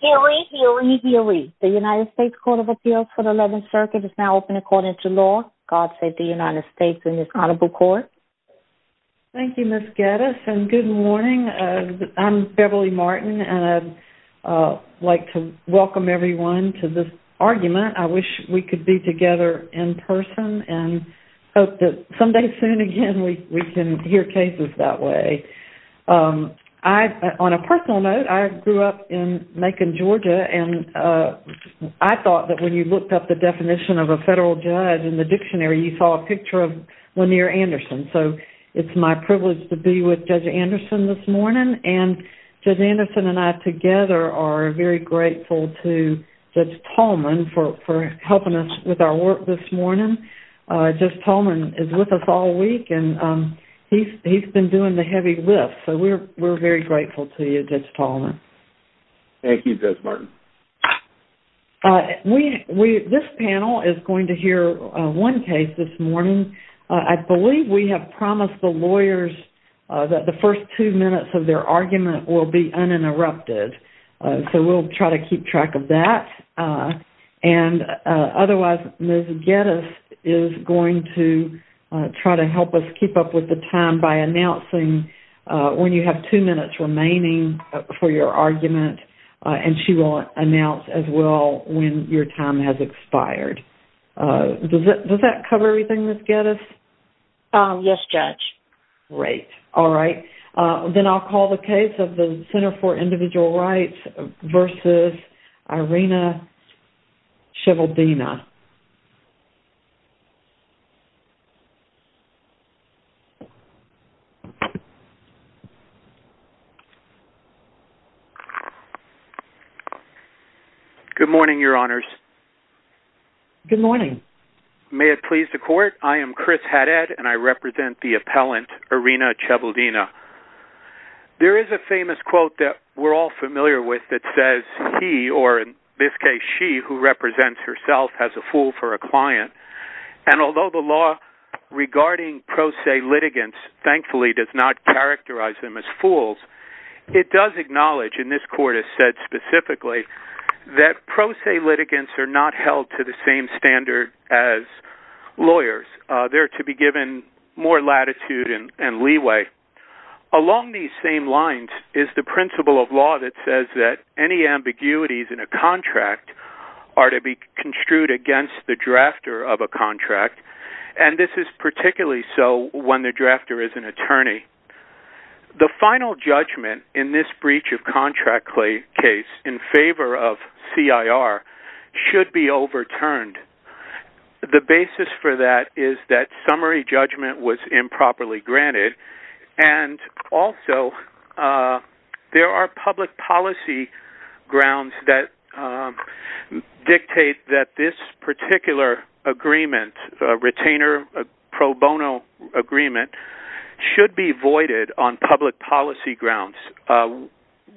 DOE, DOE, DOE. The United States Court of Appeals for the 11th Circuit is now open according to law. God save the United States and this Honorable Court. Thank you Ms. Geddes and good morning. I'm Beverly Martin and I'd like to welcome everyone to this argument. I wish we could be together in person and hope that someday soon again we can hear cases that way. I, on a personal note, I grew up in Macon, Georgia and I thought that when you looked up the definition of a federal judge in the dictionary you saw a picture of Lanier Anderson. So it's my privilege to be with Judge Anderson this morning and Judge Anderson and I together are very grateful to Judge Tolman for helping us with our work this morning. Judge Tolman is with us all week and he's been doing the heavy lift so we're very grateful to you Judge Tolman. Thank you Judge Martin. This panel is going to hear one case this morning. I believe we have promised the lawyers that the first two minutes of their argument will be uninterrupted. So we'll try to keep track of that. And otherwise Ms. Geddes is going to try to help us keep up with the time by announcing when you have two minutes remaining for your argument and she will announce as well when your time has expired. Does that cover everything Ms. Geddes? Yes Judge. Great. All right. Then I'll call the case of the Center for Individual Rights versus Irena Shivaldina. Good morning Your Honors. Good morning. May it please the Court. I am Chris Haddad and I represent the appellant Irena Shivaldina. There is a famous quote that we're all familiar with that says he or in this case she who represents herself as a fool for a client and although the law regarding pro se litigants thankfully does not characterize them as fools it does acknowledge and this Court has said specifically that pro se litigants are not held to the same standard as lawyers. They're to be given more latitude and leeway. Along these same lines is the principle of law that says that any ambiguities in a contract are to be construed against the drafter of a contract and this is particularly so when the drafter is an attorney. The final judgment in this breach of contract case in favor of CIR should be overturned. The basis for that is that summary judgment was improperly granted and also there are public policy grounds that dictate that this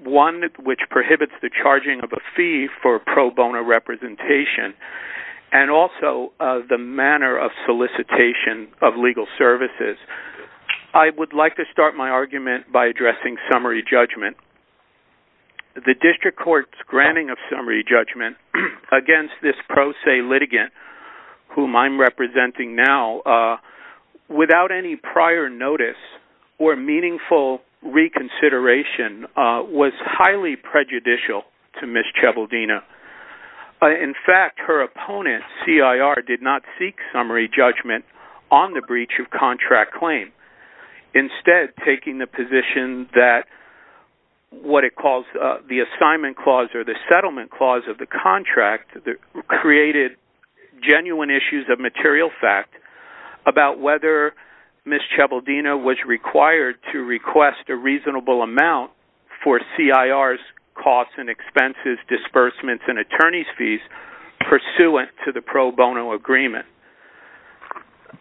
one which prohibits the charging of a fee for pro bono representation and also the manner of solicitation of legal services. I would like to start my argument by addressing summary judgment. The district court's granting of summary judgment against this pro se litigant whom I'm representing now without any prior notice or meaningful reconsideration was highly prejudicial to Ms. Chabaldina. In fact her opponent CIR did not seek summary judgment on the breach of contract claim. Instead taking the position that what it calls the assignment clause or the settlement clause of the contract created genuine issues of material fact about whether Ms. Chabaldina was required to request a reasonable amount for CIR's costs and expenses, disbursements and attorney's fees pursuant to the pro bono agreement.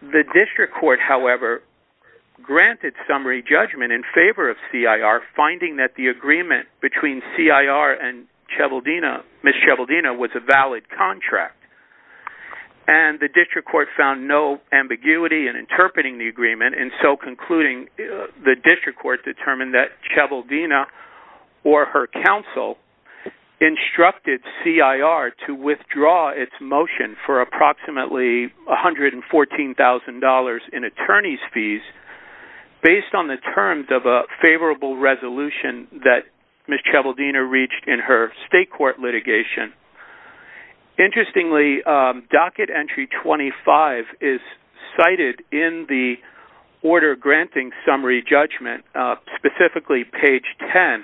The district court however granted summary judgment in favor of CIR finding that the agreement between CIR and Ms. Chabaldina was a valid contract and the district court found no ambiguity in interpreting the agreement and so concluding the district court determined that Chabaldina or her counsel instructed CIR to withdraw its motion for approximately $114,000 in attorney's fees based on the terms of a favorable resolution that Ms. Chabaldina reached in her state court litigation. Interestingly docket entry 25 is cited in the order granting summary judgment specifically page 10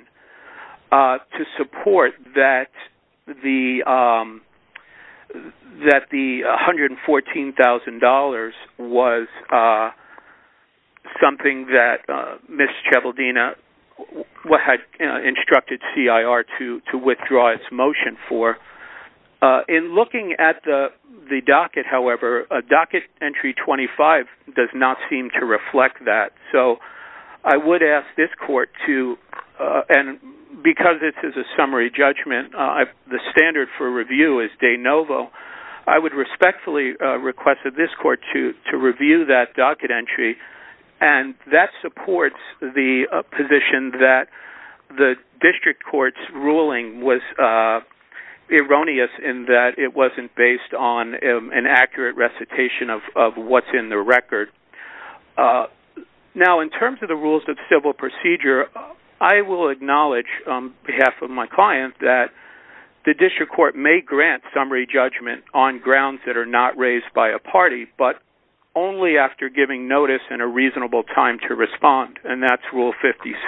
to support that the $114,000 was something that Ms. Chabaldina had instructed CIR to withdraw its motion for. In looking at the docket however docket entry 25 does not seem to reflect that so I would ask this court to review that docket entry and that supports the position that the district court's ruling was erroneous in that it wasn't based on an accurate recitation of what's in the record. Now in terms of the rules of civil procedure I will acknowledge on behalf of my client that the district court may grant summary judgment on grounds that are not raised by a party but only after giving notice and a reasonable time to respond and that's rule 56.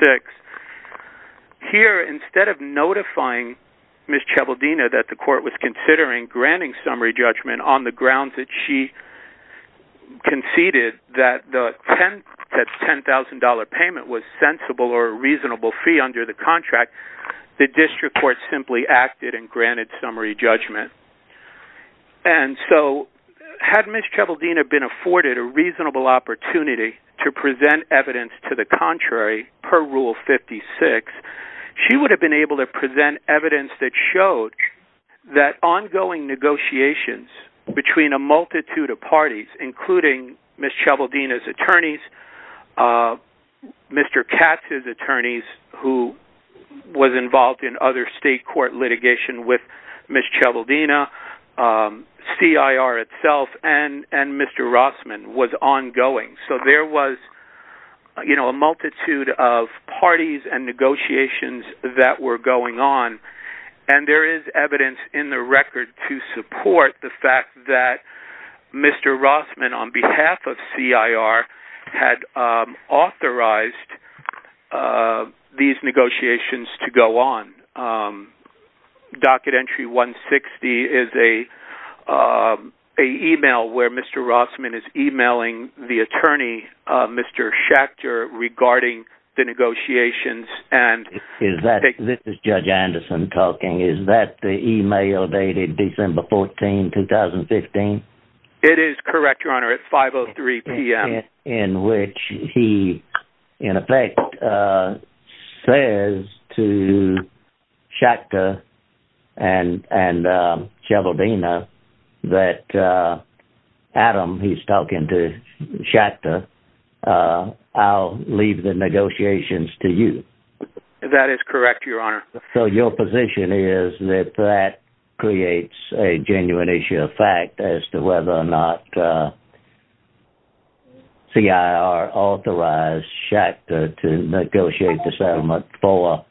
Here instead of notifying Ms. Chabaldina that the court was considering granting summary judgment on the grounds that she conceded that the $10,000 payment was sensible or a reasonable fee under the contract the district court simply acted and granted summary judgment. And so had Ms. Chabaldina been afforded a reasonable opportunity to present evidence to the contrary per rule 56 she would have been able to present evidence that showed that ongoing negotiations between a multitude of parties including Ms. Chabaldina's attorneys, Mr. Katz's was involved in other state court litigation with Ms. Chabaldina, CIR itself and Mr. Rossman was ongoing so there was you know a multitude of parties and negotiations that were going on and there is evidence in the record to support the fact that Mr. Rossman on behalf of CIR had authorized these negotiations to go on. Docket entry 160 is a email where Mr. Rossman is emailing the attorney Mr. Schachter regarding the negotiations and is that this is Judge Anderson talking is that the email dated December 14 2015? It is correct your honor at 503 p.m. in which he in effect says to Schachter and Chabaldina that Adam he's talking to Schachter I'll leave the negotiations to you. That is correct your honor. So your position is that that CIR authorized Schachter to negotiate the settlement for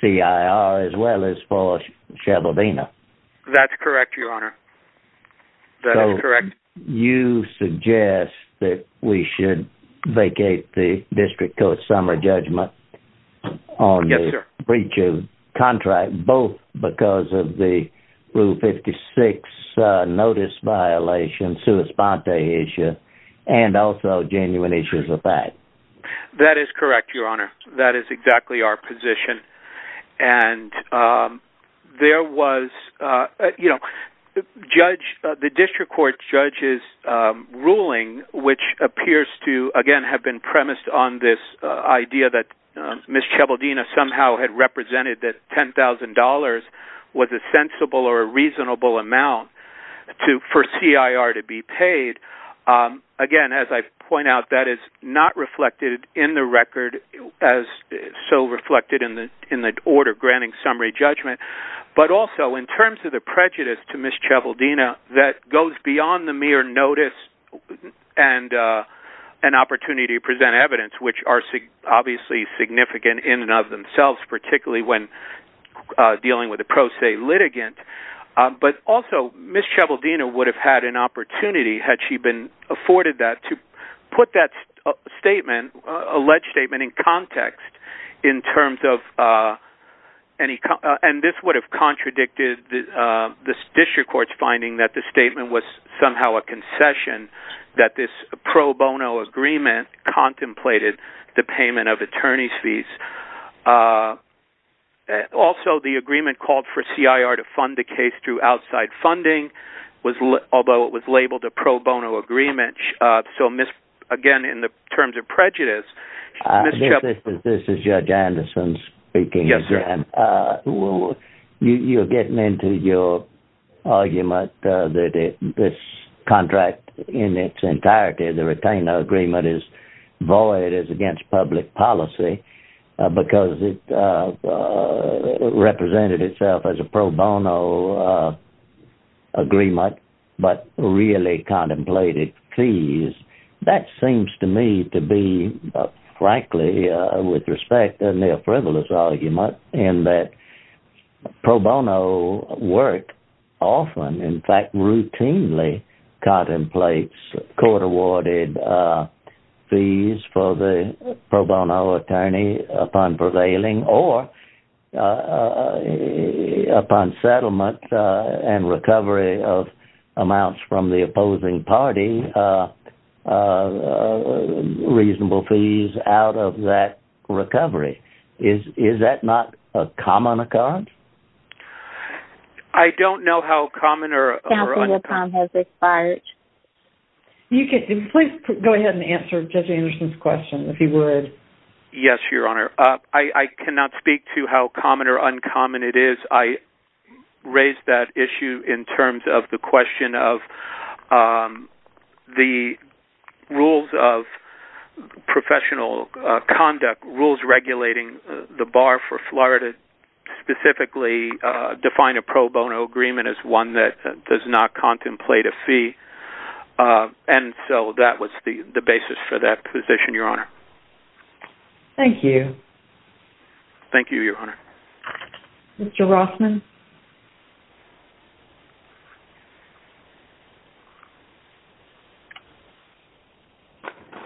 CIR as well as for Chabaldina? That's correct your honor that is correct. So you suggest that we should vacate the district court summary judgment on the breach of contract both because of the rule 56 notice violation issue and also genuine issues with that? That is correct your honor that is exactly our position and there was you know the judge the district court judge's ruling which appears to again have been premised on this idea that Ms. Chabaldina somehow had represented that $10,000 was a reasonable amount for CIR to be paid. Again as I point out that is not reflected in the record as so reflected in the in the order granting summary judgment but also in terms of the prejudice to Ms. Chabaldina that goes beyond the mere notice and an opportunity to present evidence which are obviously significant in and of themselves particularly when dealing with a pro se litigant but also Ms. Chabaldina would have had an opportunity had she been afforded that to put that statement alleged statement in context in terms of any and this would have contradicted the this district court's finding that the statement was somehow a concession that this pro bono agreement contemplated the payment of attorney's fees uh also the agreement called for CIR to fund the case through outside funding was although it was labeled a pro bono agreement uh so Ms. again in the terms of prejudice this is Judge Anderson speaking yes sir and uh you you're getting into your argument uh that this contract in its entirety the retainer agreement is against public policy because it uh represented itself as a pro bono agreement but really contemplated fees that seems to me to be frankly uh with respect a near frivolous argument in that pro bono work often in fact routinely contemplates court awarded uh fees for the pro bono attorney upon prevailing or upon settlement and recovery of amounts from the opposing party uh reasonable fees out of that recovery is is that not a common account I don't know how common or you can please go ahead and answer Judge Anderson's question if you would yes your honor uh I I cannot speak to how common or uncommon it is I raised that issue in terms of the question of um the rules of professional uh conduct rules regulating the bar for Florida specifically uh define a pro bono agreement as one that does not contemplate a fee uh and so that was the the basis for that position your honor thank you thank you your honor Mr. Rossman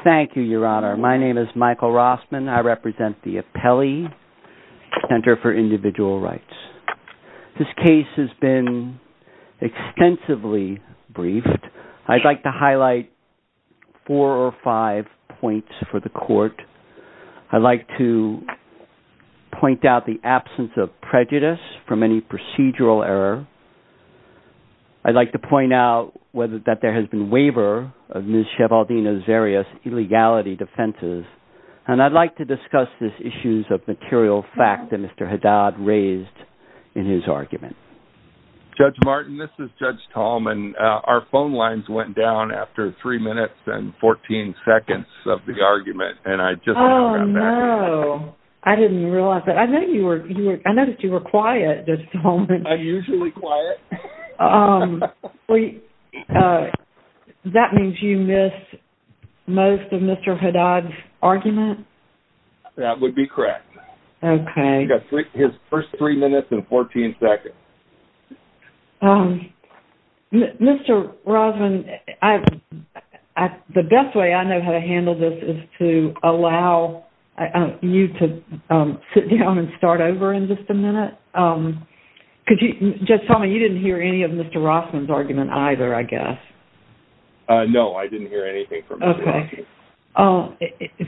thank you your honor my name is Michael Rossman I represent the Apelli Center for Individual Rights this case has been extensively briefed I'd like to highlight four or five points for the court I'd like to point out the absence of prejudice from any procedural error I'd like to point out whether that there has been waiver of Ms. Shevaldina's various illegality defenses and I'd like to discuss this issues of material fact that Mr. Haddad raised in his argument Judge Martin this is Judge Tallman our phone lines went down after three minutes and 14 seconds of the argument and I just oh no I didn't realize that I know you were you were I noticed you were quiet just a moment I'm usually quiet um wait uh that means you missed most of Mr. Haddad's argument that would be correct okay got three his first three minutes and 14 seconds um Mr. Rossman I the best way I know how to handle this is to allow you to um sit down and start over in just a minute um could you just tell me you didn't hear any of Mr. Rossman's argument either I guess uh no I didn't hear anything from okay oh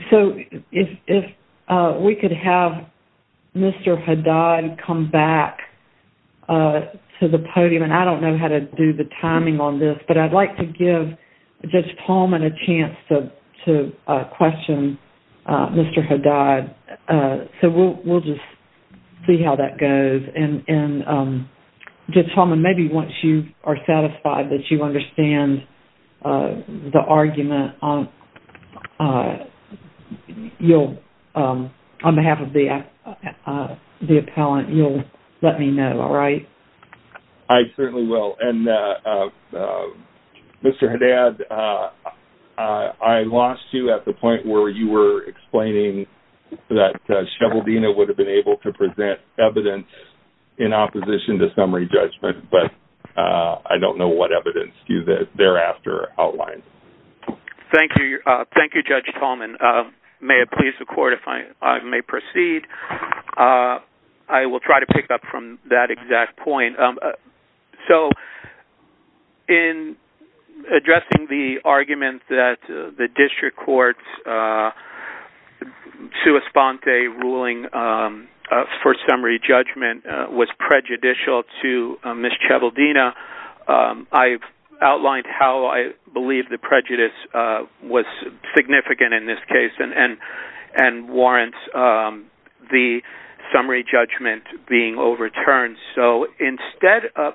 so if if uh we could have Mr. Haddad come back uh to the podium and I don't know how to do the timing on this but I'd like to give Judge Tallman a chance to to uh question uh Mr. Haddad uh so we'll we'll just see how that goes and and um Judge Tallman maybe once you are satisfied that you understand uh the argument on uh you'll um on behalf of the uh uh the appellant you'll let me know all right I certainly will and Mr. Haddad uh I lost you at the point where you were explaining that uh Sheveldina would have been able to present evidence in opposition to summary judgment but uh I don't know what evidence thereafter outlines thank you uh thank you Judge Tallman uh may it please the court if I may proceed uh I will try to pick up from that exact point um so in addressing the argument that the district court's uh sua sponte ruling um for summary judgment was prejudicial to Miss Sheveldina um I've outlined how I believe the prejudice uh was significant in this case and and and warrants um the summary judgment being overturned so instead of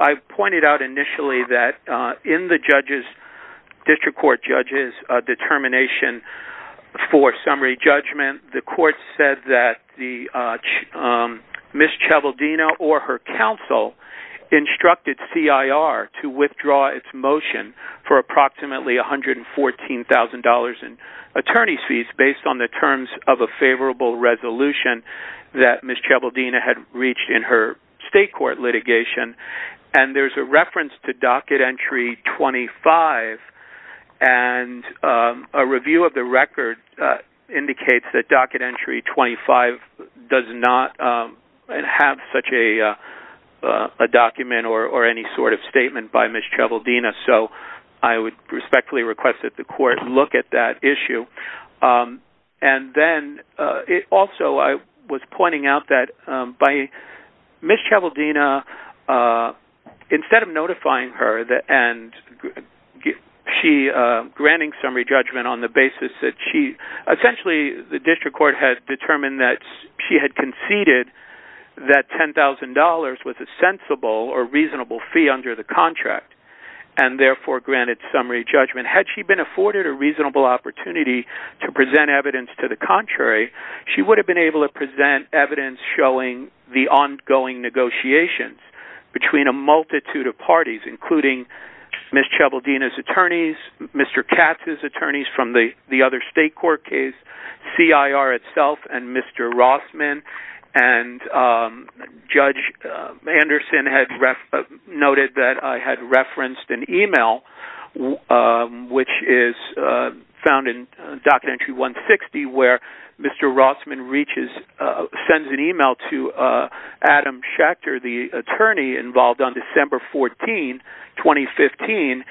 I've pointed out initially that uh in the judges district court judges uh determination for summary judgment the court said that the uh Miss Sheveldina or her counsel instructed CIR to withdraw its motion for approximately $114,000 in attorney fees based on the terms of a favorable resolution that Miss Sheveldina had reached in her state court litigation and there's a reference to 25 does not um and have such a uh a document or or any sort of statement by Miss Sheveldina so I would respectfully request that the court look at that issue um and then uh it also I was pointing out that um by Miss Sheveldina uh instead of notifying her that and she uh on the basis that she essentially the district court has determined that she had conceded that $10,000 was a sensible or reasonable fee under the contract and therefore granted summary judgment had she been afforded a reasonable opportunity to present evidence to the contrary she would have been able to present evidence showing the ongoing negotiations between a from the the other state court case CIR itself and Mr. Rossman and um Judge Anderson had noted that I had referenced an email which is uh found in Document Entry 160 where Mr. Rossman reaches uh sends an email to uh Adam Schechter the attorney involved on December 14, 2015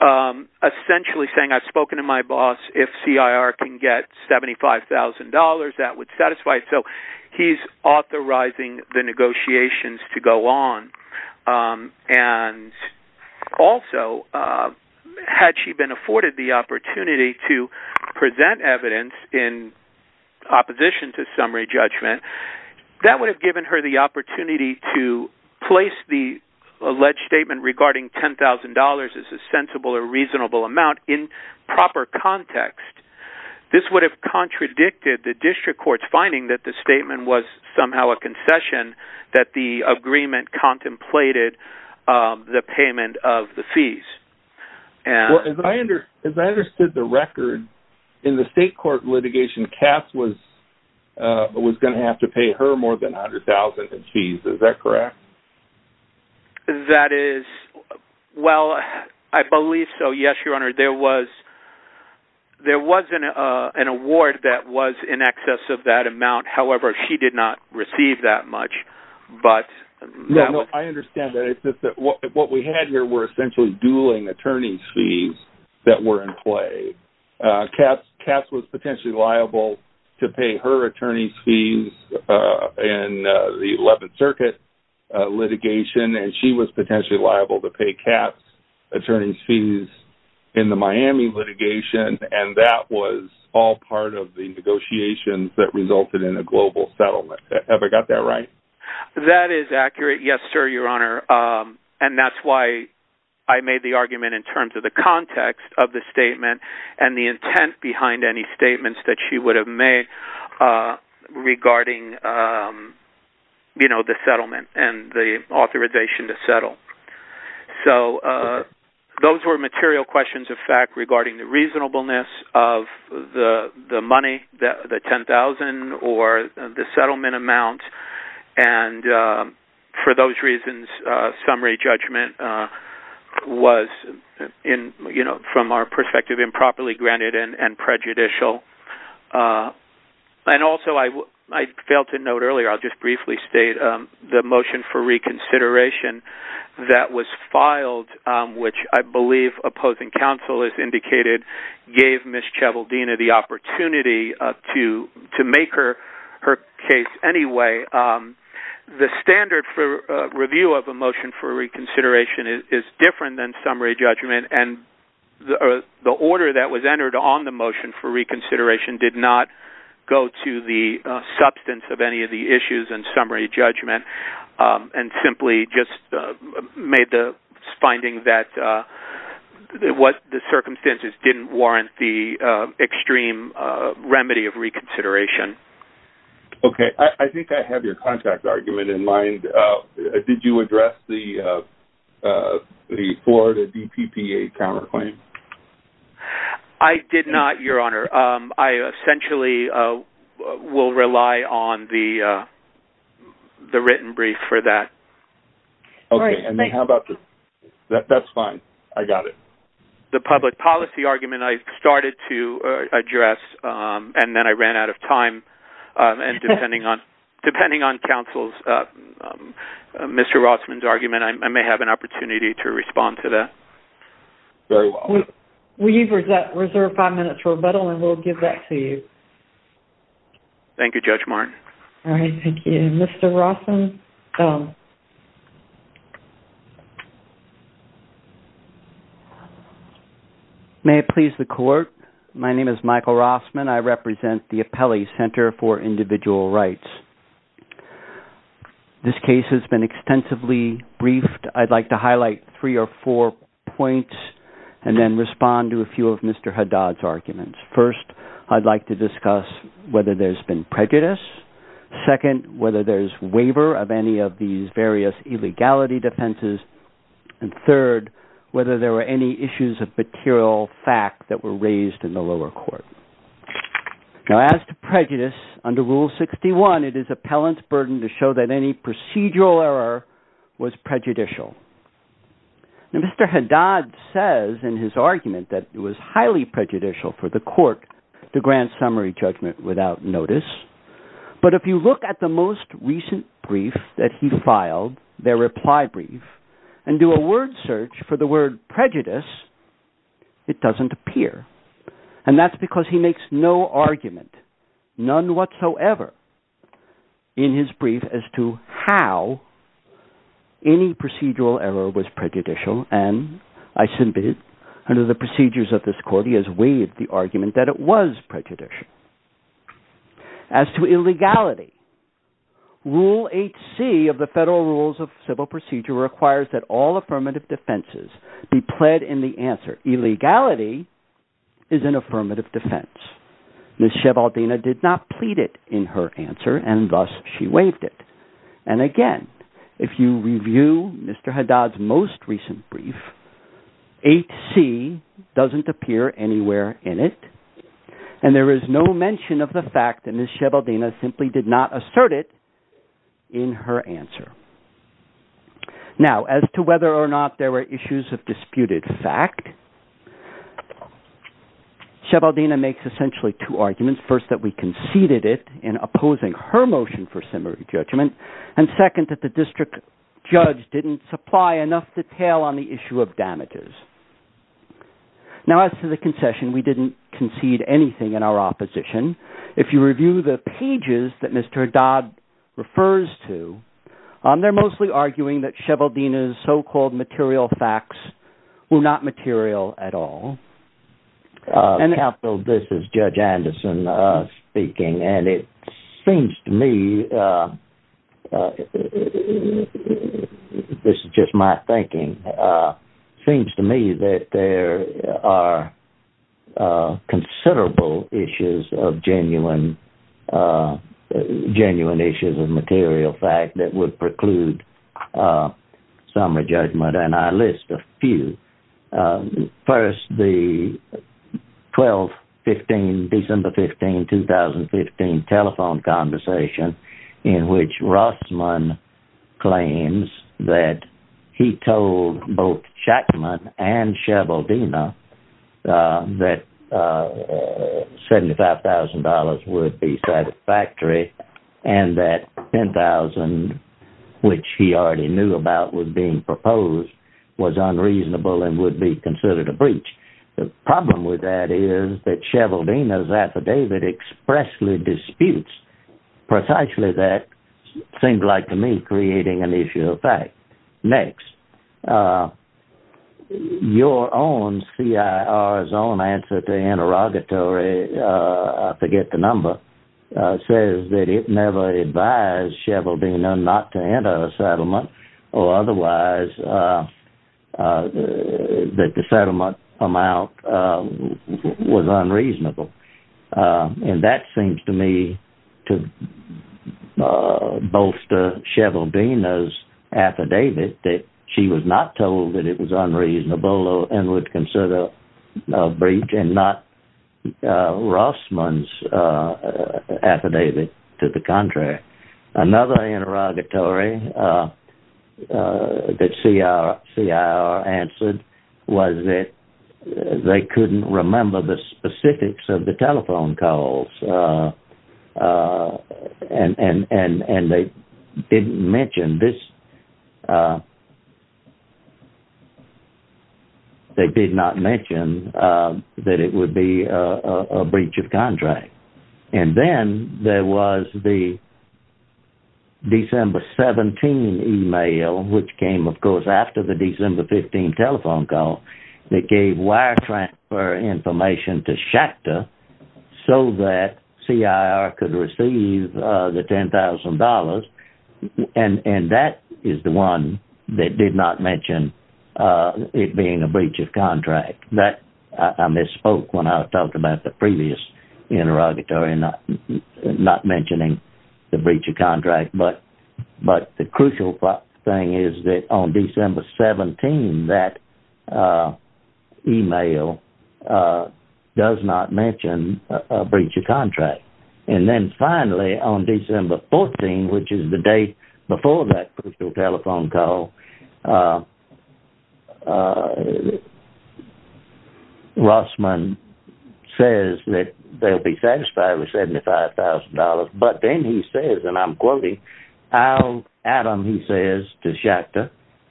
um essentially saying I've spoken to my boss if CIR can get $75,000 that would satisfy so he's authorizing the negotiations to go on um and also uh had she been afforded the opportunity to present evidence in opposition to summary judgment that would have given her the $10,000 as a sensible or reasonable amount in proper context this would have contradicted the district court's finding that the statement was somehow a concession that the agreement contemplated uh the payment of the fees and as I under as I understood the record in the state court litigation Cass was uh was going to have to pay her more than a hundred thousand in fees is that correct that is well I believe so yes your honor there was there was an uh an award that was in excess of that amount however she did not receive that much but yeah no I understand that it's just that what we had here were essentially dueling attorney's fees that were uh Cass was potentially liable to pay her attorney's fees uh in the 11th circuit litigation and she was potentially liable to pay Cass attorney's fees in the Miami litigation and that was all part of the negotiations that resulted in a global settlement have I got that right that is accurate yes sir your honor um and that's why I made the argument in terms of the and the intent behind any statements that she would have made uh regarding um you know the settlement and the authorization to settle so uh those were material questions of fact regarding the reasonableness of the the money that the 10,000 or the settlement amount and uh for those reasons uh summary judgment uh was in you know from our perspective improperly granted and prejudicial uh and also I I failed to note earlier I'll just briefly state um the motion for reconsideration that was filed um which I believe opposing counsel has indicated gave the opportunity uh to to make her her case anyway um the standard for review of a motion for reconsideration is different than summary judgment and the order that was entered on the motion for reconsideration did not go to the substance of any of the issues and summary judgment um and simply just made the finding that uh it was the circumstances didn't warrant the extreme uh remedy of reconsideration okay I think I have your contact argument in mind uh did you address the uh the Florida DPPA counterclaim I did not your honor um I essentially uh will rely on the uh the written brief for that okay and then how about that that's fine I got it the public policy argument I started to address um and then I ran out of time um and depending on depending on counsel's uh Mr. Rossman's argument I may have an opportunity to respond to that very well we've reserved five minutes for rebuttal and we'll give that to you thank you Judge Martin all right thank you Mr. Rossman may it please the court my name is Michael Rossman I represent the Appellee Center for Individual Rights this case has been extensively briefed I'd like to highlight three or four points and then respond to a few of Mr. Haddad's arguments first I'd like to discuss whether there's been prejudice second whether there's waiver of any of these various illegality defenses and third whether there were any issues of material fact that were raised in the lower court now as to prejudice under rule 61 it is appellant's burden to show that any procedural error was prejudicial now Mr. Haddad says in his argument that it was highly prejudicial for the court to grant summary judgment without notice but if you look at the most recent brief that he filed their reply brief and do a word search for the word prejudice it doesn't appear and that's because he makes no argument none whatsoever in his brief as to how any procedural error was prejudicial and I submitted under the procedures of this court he has waived the of civil procedure requires that all affirmative defenses be pled in the answer illegality is an affirmative defense Ms. Shevaldina did not plead it in her answer and thus she waived it and again if you review Mr. Haddad's most recent brief 8c doesn't appear anywhere in it and there is no mention of the fact that Ms. Shevaldina simply did not assert it in her answer now as to whether or not there were issues of disputed fact Shevaldina makes essentially two arguments first that we conceded it in opposing her motion for summary judgment and second that the district judge didn't supply enough detail on the issue of damages now as to the concession we didn't concede anything in our opposition if you review the pages that Mr. Haddad refers to they're mostly arguing that Shevaldina's so-called material facts were not material at all and capital this is Judge Anderson speaking and it seems to me uh this is just my thinking uh seems to me that there are uh considerable issues of genuine uh genuine issues of material fact that would preclude summary judgment and I list a few first the 12, 15, December 15, 2015 telephone conversation in which Rossman claims that he told both Shackman and Shevaldina that uh $75,000 would be satisfactory and that $10,000 which he already knew about was being proposed was unreasonable and would be considered a breach the problem with that is that Shevaldina's precisely that seemed like to me creating an issue of fact next uh your own CIR's own answer to interrogatory uh I forget the number uh says that it never advised Shevaldina not to enter a settlement or otherwise uh uh that the settlement amount um was unreasonable and that seems to me to bolster Shevaldina's affidavit that she was not told that it was unreasonable and would consider a breach and not Rossman's affidavit to the contract another interrogatory uh uh that CIR answered was that they couldn't remember the specifics of the telephone calls uh uh and and and and they didn't mention this uh they did not mention uh that it would be a a breach of contract and then there was the December 17 email which came of course after the December 15 telephone call that gave wire transfer information to Schachter so that CIR could receive uh the $10,000 and and that is the one that did not mention uh it being a breach of contract that I misspoke when I talked about the previous interrogatory not not mentioning the breach of contract but but the crucial thing is that on December 17 that uh email uh does not mention a breach of contract and then finally on December 14 which is the date before that crucial telephone call uh uh uh Rossman says that they'll be satisfied with $75,000 but then he says and I'm quoting I'll Adam he says to Schachter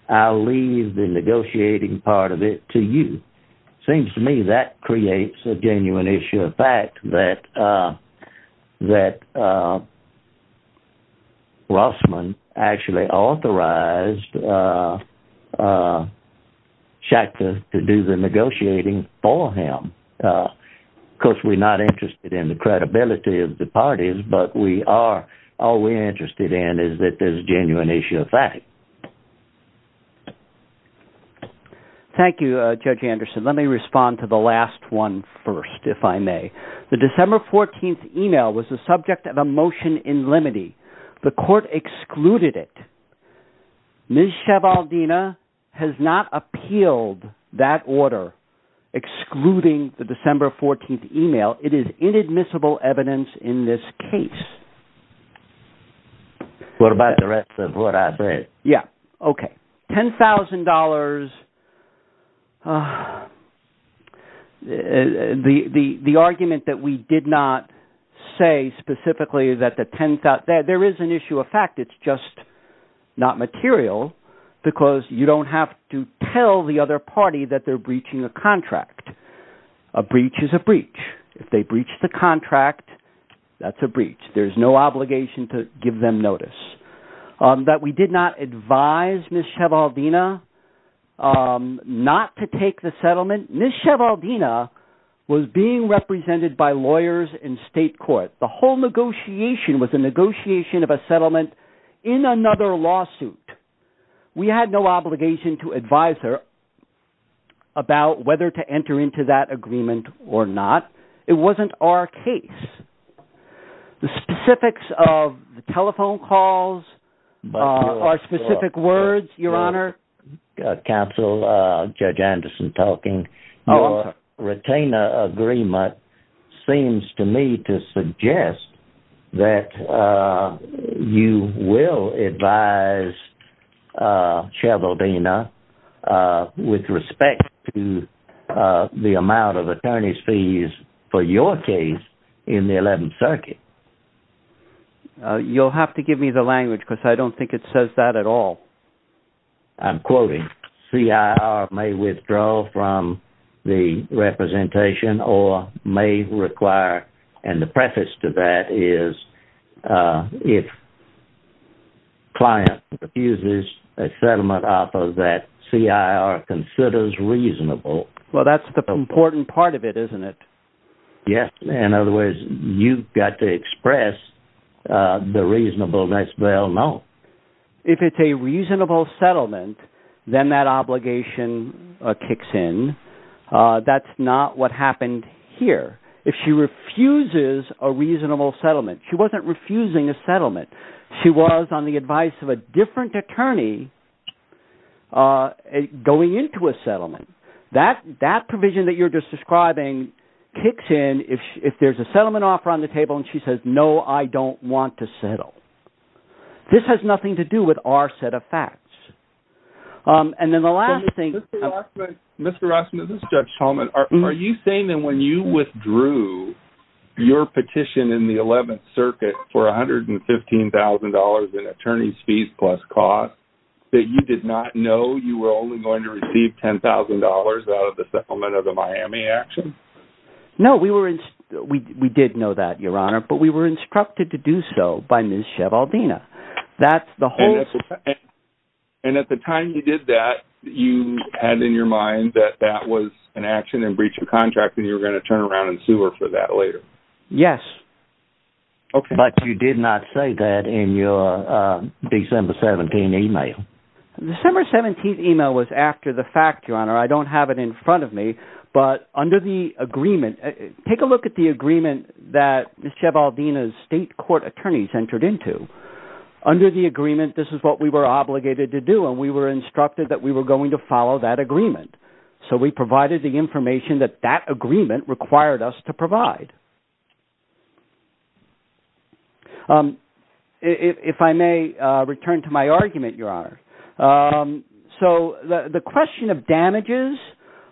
I'll leave the negotiating part of it to you seems to me that creates a genuine issue of fact that uh that uh actually authorized uh uh Schachter to do the negotiating for him uh of course we're not interested in the credibility of the parties but we are all we're interested in is that there's genuine issue of fact thank you uh Judge Anderson let me respond to the last one first if I may the December 14th email was the subject of a motion in limity the court excluded it Ms. Shevaldina has not appealed that order excluding the December 14th email it is inadmissible evidence in this case what about the rest of what I said yeah okay $10,000 $10,000 uh the the the argument that we did not say specifically that the 10th there is an issue of fact it's just not material because you don't have to tell the other party that they're breaching a contract a breach is a breach if they breach the contract that's a breach there's no obligation to um not to take the settlement Ms. Shevaldina was being represented by lawyers in state court the whole negotiation was a negotiation of a settlement in another lawsuit we had no obligation to advise her about whether to enter into that agreement or not it wasn't our case the specifics of the telephone calls are specific words your honor council uh Judge Anderson talking retainer agreement seems to me to suggest that uh you will advise uh Shevaldina uh respect to uh the amount of attorney's fees for your case in the 11th circuit you'll have to give me the language because I don't think it says that at all I'm quoting CIR may withdraw from the representation or may require and the preface to that is uh if client refuses a settlement offer that CIR considers reasonable well that's the important part of it isn't it yes in other words you've got to express uh the reasonableness well no if it's a reasonable settlement then that obligation kicks in uh that's not what happened here if she refuses a reasonable settlement she wasn't refusing a settlement she was on the advice of a different attorney uh going into a settlement that that provision that you're just describing kicks in if if there's a settlement offer on the table and she says no I don't want to settle this has nothing to do with our set of facts um and then the last thing Mr. Rossman this is Judge Holman are you saying that when you withdrew your petition in the 11th circuit for $115,000 in attorney's fees plus cost that you did not know you were only going to receive $10,000 out of the settlement of the Miami action no we were in we we did know that your honor but we were instructed to do so by Ms. Shevaldina that's the whole and at the time you did that you had in your mind that that was an action in breach of contract and you were going to turn around and sue her for that later yes okay but you did not say that in your uh December 17 email December 17th email was after the fact your honor I don't have it in front of me but under the agreement take a look at the agreement that Ms. Shevaldina's state court attorneys entered into under the agreement this is what we were obligated to do and we were instructed that we were going to follow that agreement so we provided the information that that agreement required us to provide um if I may uh return to my argument your honor um so the the question of damages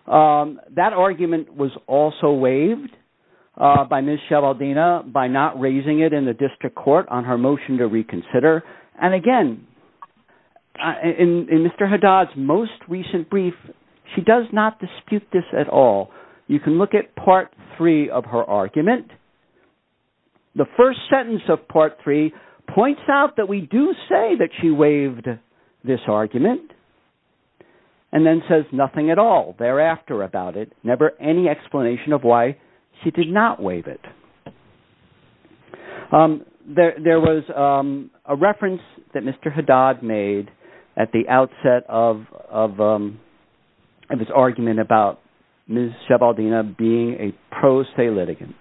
um that argument was also waived uh by Ms. Shevaldina by not raising it in the district court on her motion to reconsider and again in Mr. Haddad's most recent brief she does not dispute this at all you can look at part three of her argument the first sentence of part three points out that we do say that she waived this argument and then says nothing at all thereafter about it any explanation of why she did not waive it um there there was um a reference that Mr. Haddad made at the outset of of um of his argument about Ms. Shevaldina being a pro se litigant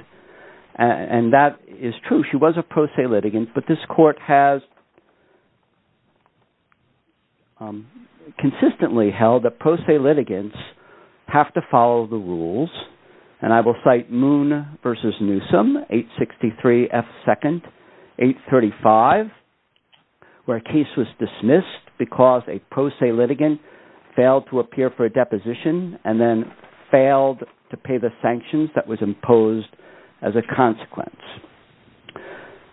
and that is true she was a pro se litigant but this court has um consistently held that pro se litigants have to follow the rules and I will cite Moon versus Newsom 863 F 2nd 835 where a case was dismissed because a pro se litigant failed to appear for a deposition and then failed to pay the sanctions that was imposed as a consequence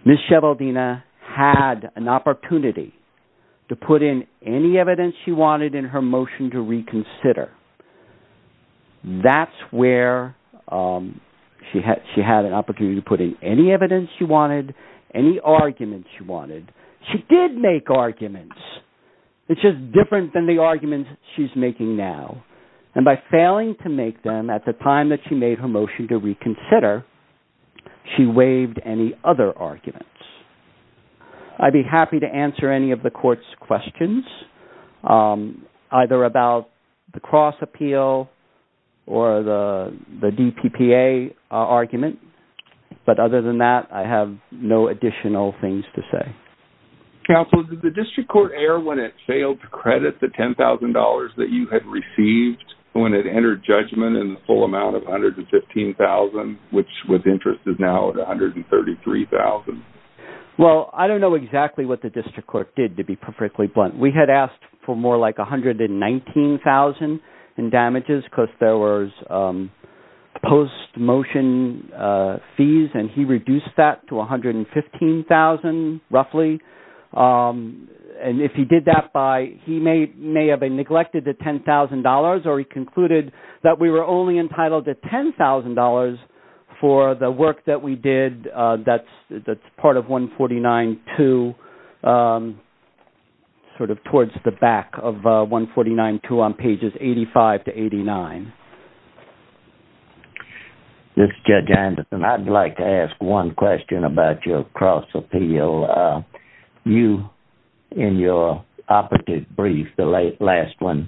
Ms. Shevaldina had an opportunity to put in any evidence she wanted in her motion to reconsider that's where um she had she had an opportunity to put in any evidence she wanted any arguments she wanted she did make arguments it's just different than the arguments she's making now and by failing to make them at the time that she made her motion to consider she waived any other arguments I'd be happy to answer any of the court's questions either about the cross appeal or the the DPPA argument but other than that I have no additional things to say counsel did the district court err when it failed to credit the $10,000 that you had received when it entered judgment in the full amount of 115,000 which with interest is now at 133,000 well I don't know exactly what the district court did to be perfectly blunt we had asked for more like 119,000 in damages because there was um post motion uh fees and he reduced that to 115,000 roughly um and if he did that by he may may have been neglected the $10,000 or he concluded that we were only entitled to $10,000 for the work that we did uh that's that's part of 149-2 um sort of towards the back of uh 149-2 on pages 85 to 89. This is Judge Anderson I'd like to ask one question about your cross appeal uh you in your operative brief the late last one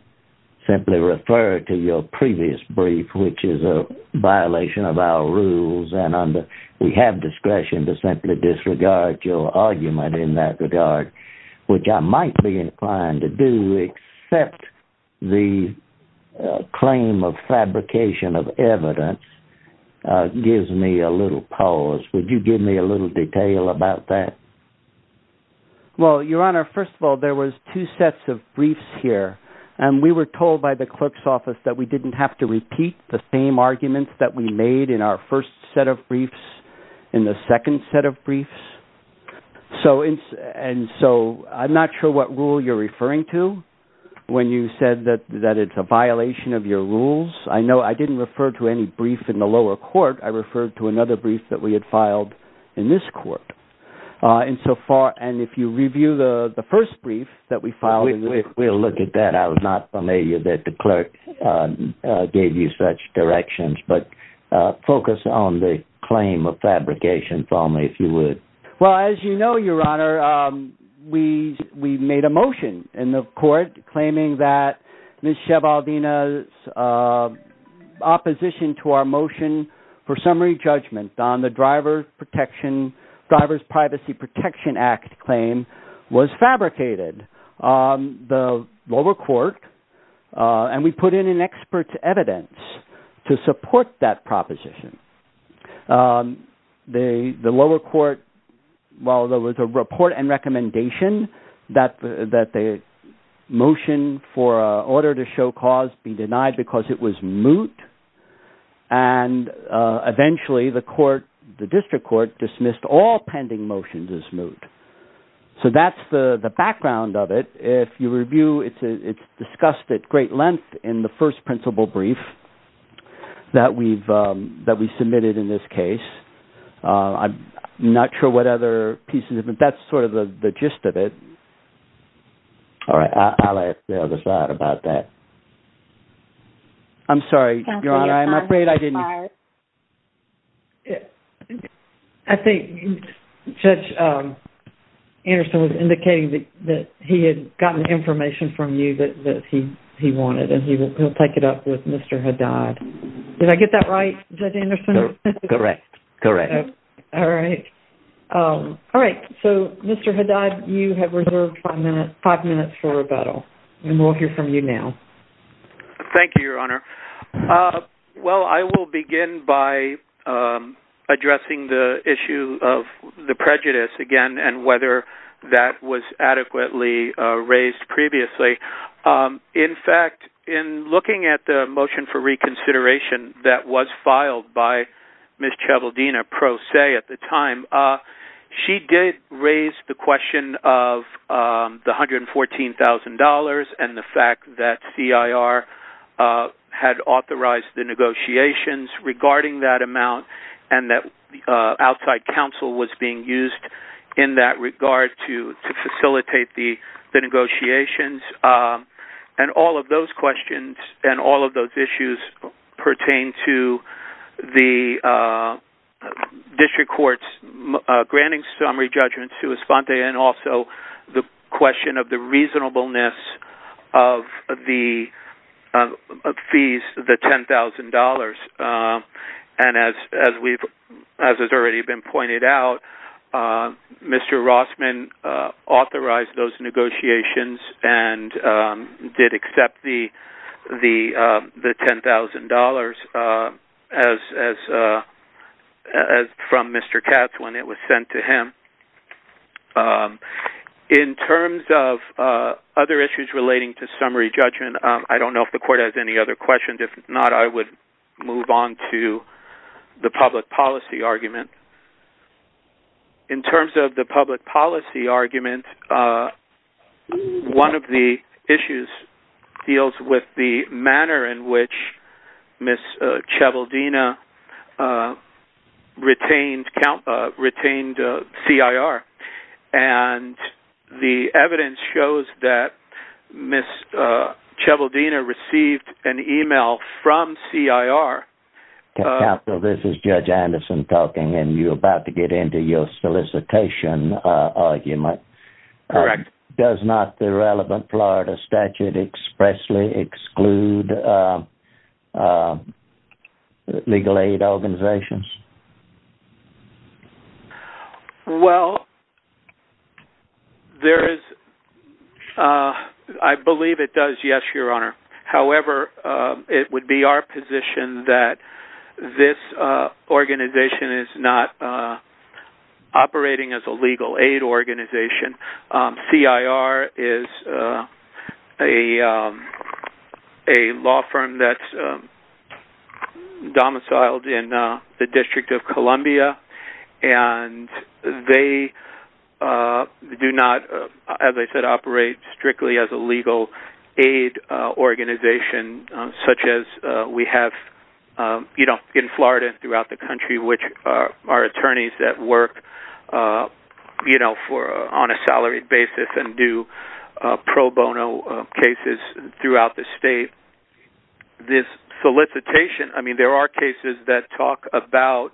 simply referred to your previous brief which is a violation of our rules and under we have discretion to simply disregard your argument in that regard which I might be inclined to do except the claim of fabrication of evidence uh gives me a little pause would you give me a little detail about that well your honor first of all there was two sets of briefs here and we were told by the clerk's office that we didn't have to repeat the same arguments that we made in our first set of briefs in the second set of briefs so and so I'm not sure what rule you're referring to when you said that that it's a violation of your rules I know I didn't refer to any brief in the lower court I referred to another brief that we had filed in this court uh and so far and if you review the the first brief that we filed if we'll look at that I was not familiar that the clerk gave you such directions but focus on the claim of fabrication for me if you would well as you know your honor we we made a motion in the court claiming that Ms. Shevaldina's opposition to our motion for summary judgment on the driver protection driver's privacy protection act claim was fabricated on the lower court and we put in an expert's evidence to support that proposition the the lower court while there was a report and recommendation that that the motion for a order to show cause be denied because it was moot and eventually the court the district court dismissed all pending motions as moot so that's the the background of it if you review it's it's discussed at great length in the first principal brief that we've um that we submitted in this case uh I'm not sure what other pieces but that's sort of the the gist of it all right I'll ask the other side about that I'm sorry your honor I'm afraid I didn't I think Judge Anderson was indicating that he had gotten information from you that that he he wanted and he will take it up with Mr. Haddad did I get that right Judge Anderson correct correct all right um all right so Mr. Haddad you have reserved five minutes five minutes for rebuttal and we'll hear from you now thank you your honor uh well I will begin by um addressing the issue of the prejudice again and whether that was adequately uh raised previously um in fact in looking at the motion for reconsideration that was filed by Ms. Chabaldina pro se at the time uh she did raise the question of um the 114 000 and the fact that CIR uh had authorized the outside counsel was being used in that regard to to facilitate the the negotiations and all of those questions and all of those issues pertain to the uh district courts granting summary judgments to respond and also the question of the reasonableness of the of fees the ten thousand dollars uh and as as we've as has already been pointed out uh Mr. Rossman uh authorized those negotiations and um did accept the the uh the ten thousand dollars uh as as uh as from Mr. Katz when it was sent to him um in terms of uh other issues relating to summary judgment uh I don't know if the court has any other questions if not I would move on to the public policy argument in terms of the public policy argument uh one of the issues deals with the manner in which Ms. Chabaldina uh retained count uh retained uh CIR and the evidence shows that Ms. uh Chabaldina received an email from CIR counsel this is Judge Anderson talking and you're about to get into your solicitation uh argument correct does not the relevant Florida statute expressly exclude uh legal aid organizations well there is uh I believe it does yes your honor however uh it would be our position that this uh organization is not uh operating as a legal aid organization um CIR is uh a um a law firm that's um domiciled in uh the District of Columbia and they uh do not as I said operate strictly as a legal aid uh organization such as uh we have um you know in Florida throughout the country which are attorneys that work uh you know for on a salaried basis and do pro bono cases throughout the state this solicitation I mean there are cases that talk about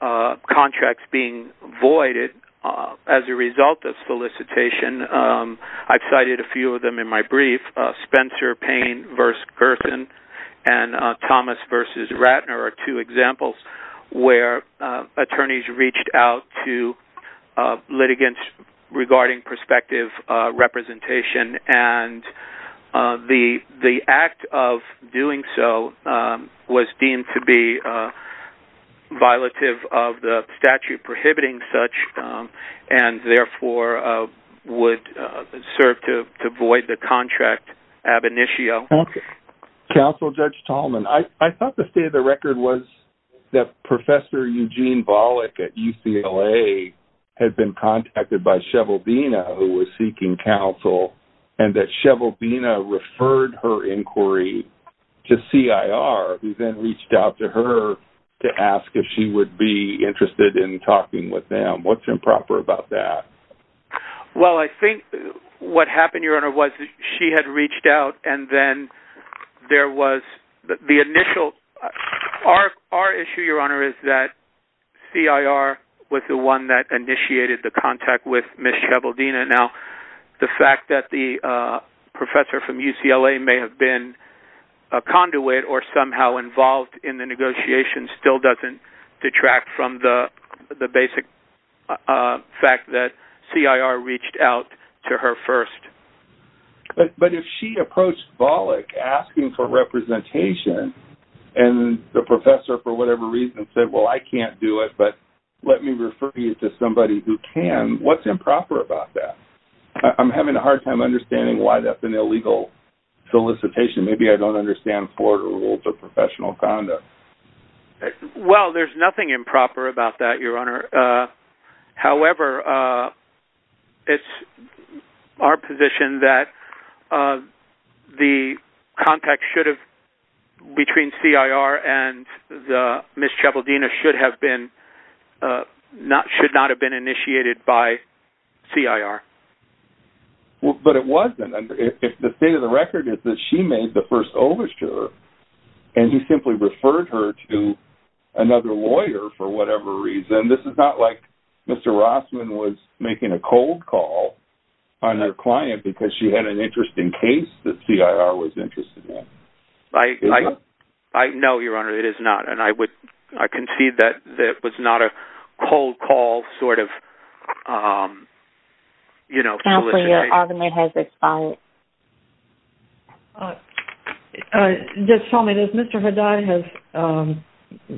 uh contracts being voided uh as a result of solicitation um I've cited a few of them in my brief uh Spencer Payne versus Gerson and uh Thomas versus Ratner are two examples where uh reached out to uh litigants regarding prospective uh representation and uh the the act of doing so um was deemed to be uh violative of the statute prohibiting such um and therefore uh would uh serve to to void the contract ab initio okay counsel Judge Tallman I I thought the state record was that Professor Eugene Bollick at UCLA had been contacted by Shevel Bina who was seeking counsel and that Shevel Bina referred her inquiry to CIR who then reached out to her to ask if she would be interested in talking with them what's improper about that well I think what happened she had reached out and then there was the initial our our issue your honor is that CIR was the one that initiated the contact with Ms. Shevel Bina now the fact that the uh professor from UCLA may have been a conduit or somehow involved in the negotiation still doesn't detract from the the basic uh fact that CIR reached out to her first but but if she approached Bollick asking for representation and the professor for whatever reason said well I can't do it but let me refer you to somebody who can what's improper about that I'm having a hard time understanding why that's an illegal solicitation maybe I don't understand Florida rules of improper about that your honor uh however uh it's our position that the contact should have between CIR and the Ms. Shevel Bina should have been uh not should not have been initiated by CIR well but it wasn't if the state of the record is that she made the first over to her and he simply referred her to another lawyer for whatever reason this is not like Mr. Rossman was making a cold call on their client because she had an interesting case that CIR was interested in I I know your honor it is not and I would I concede that that was not a cold call sort of um you know your argument has expired uh uh just tell me this Mr. Heday has um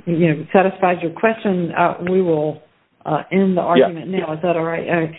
you know satisfies your question uh we will uh end the argument now is that all right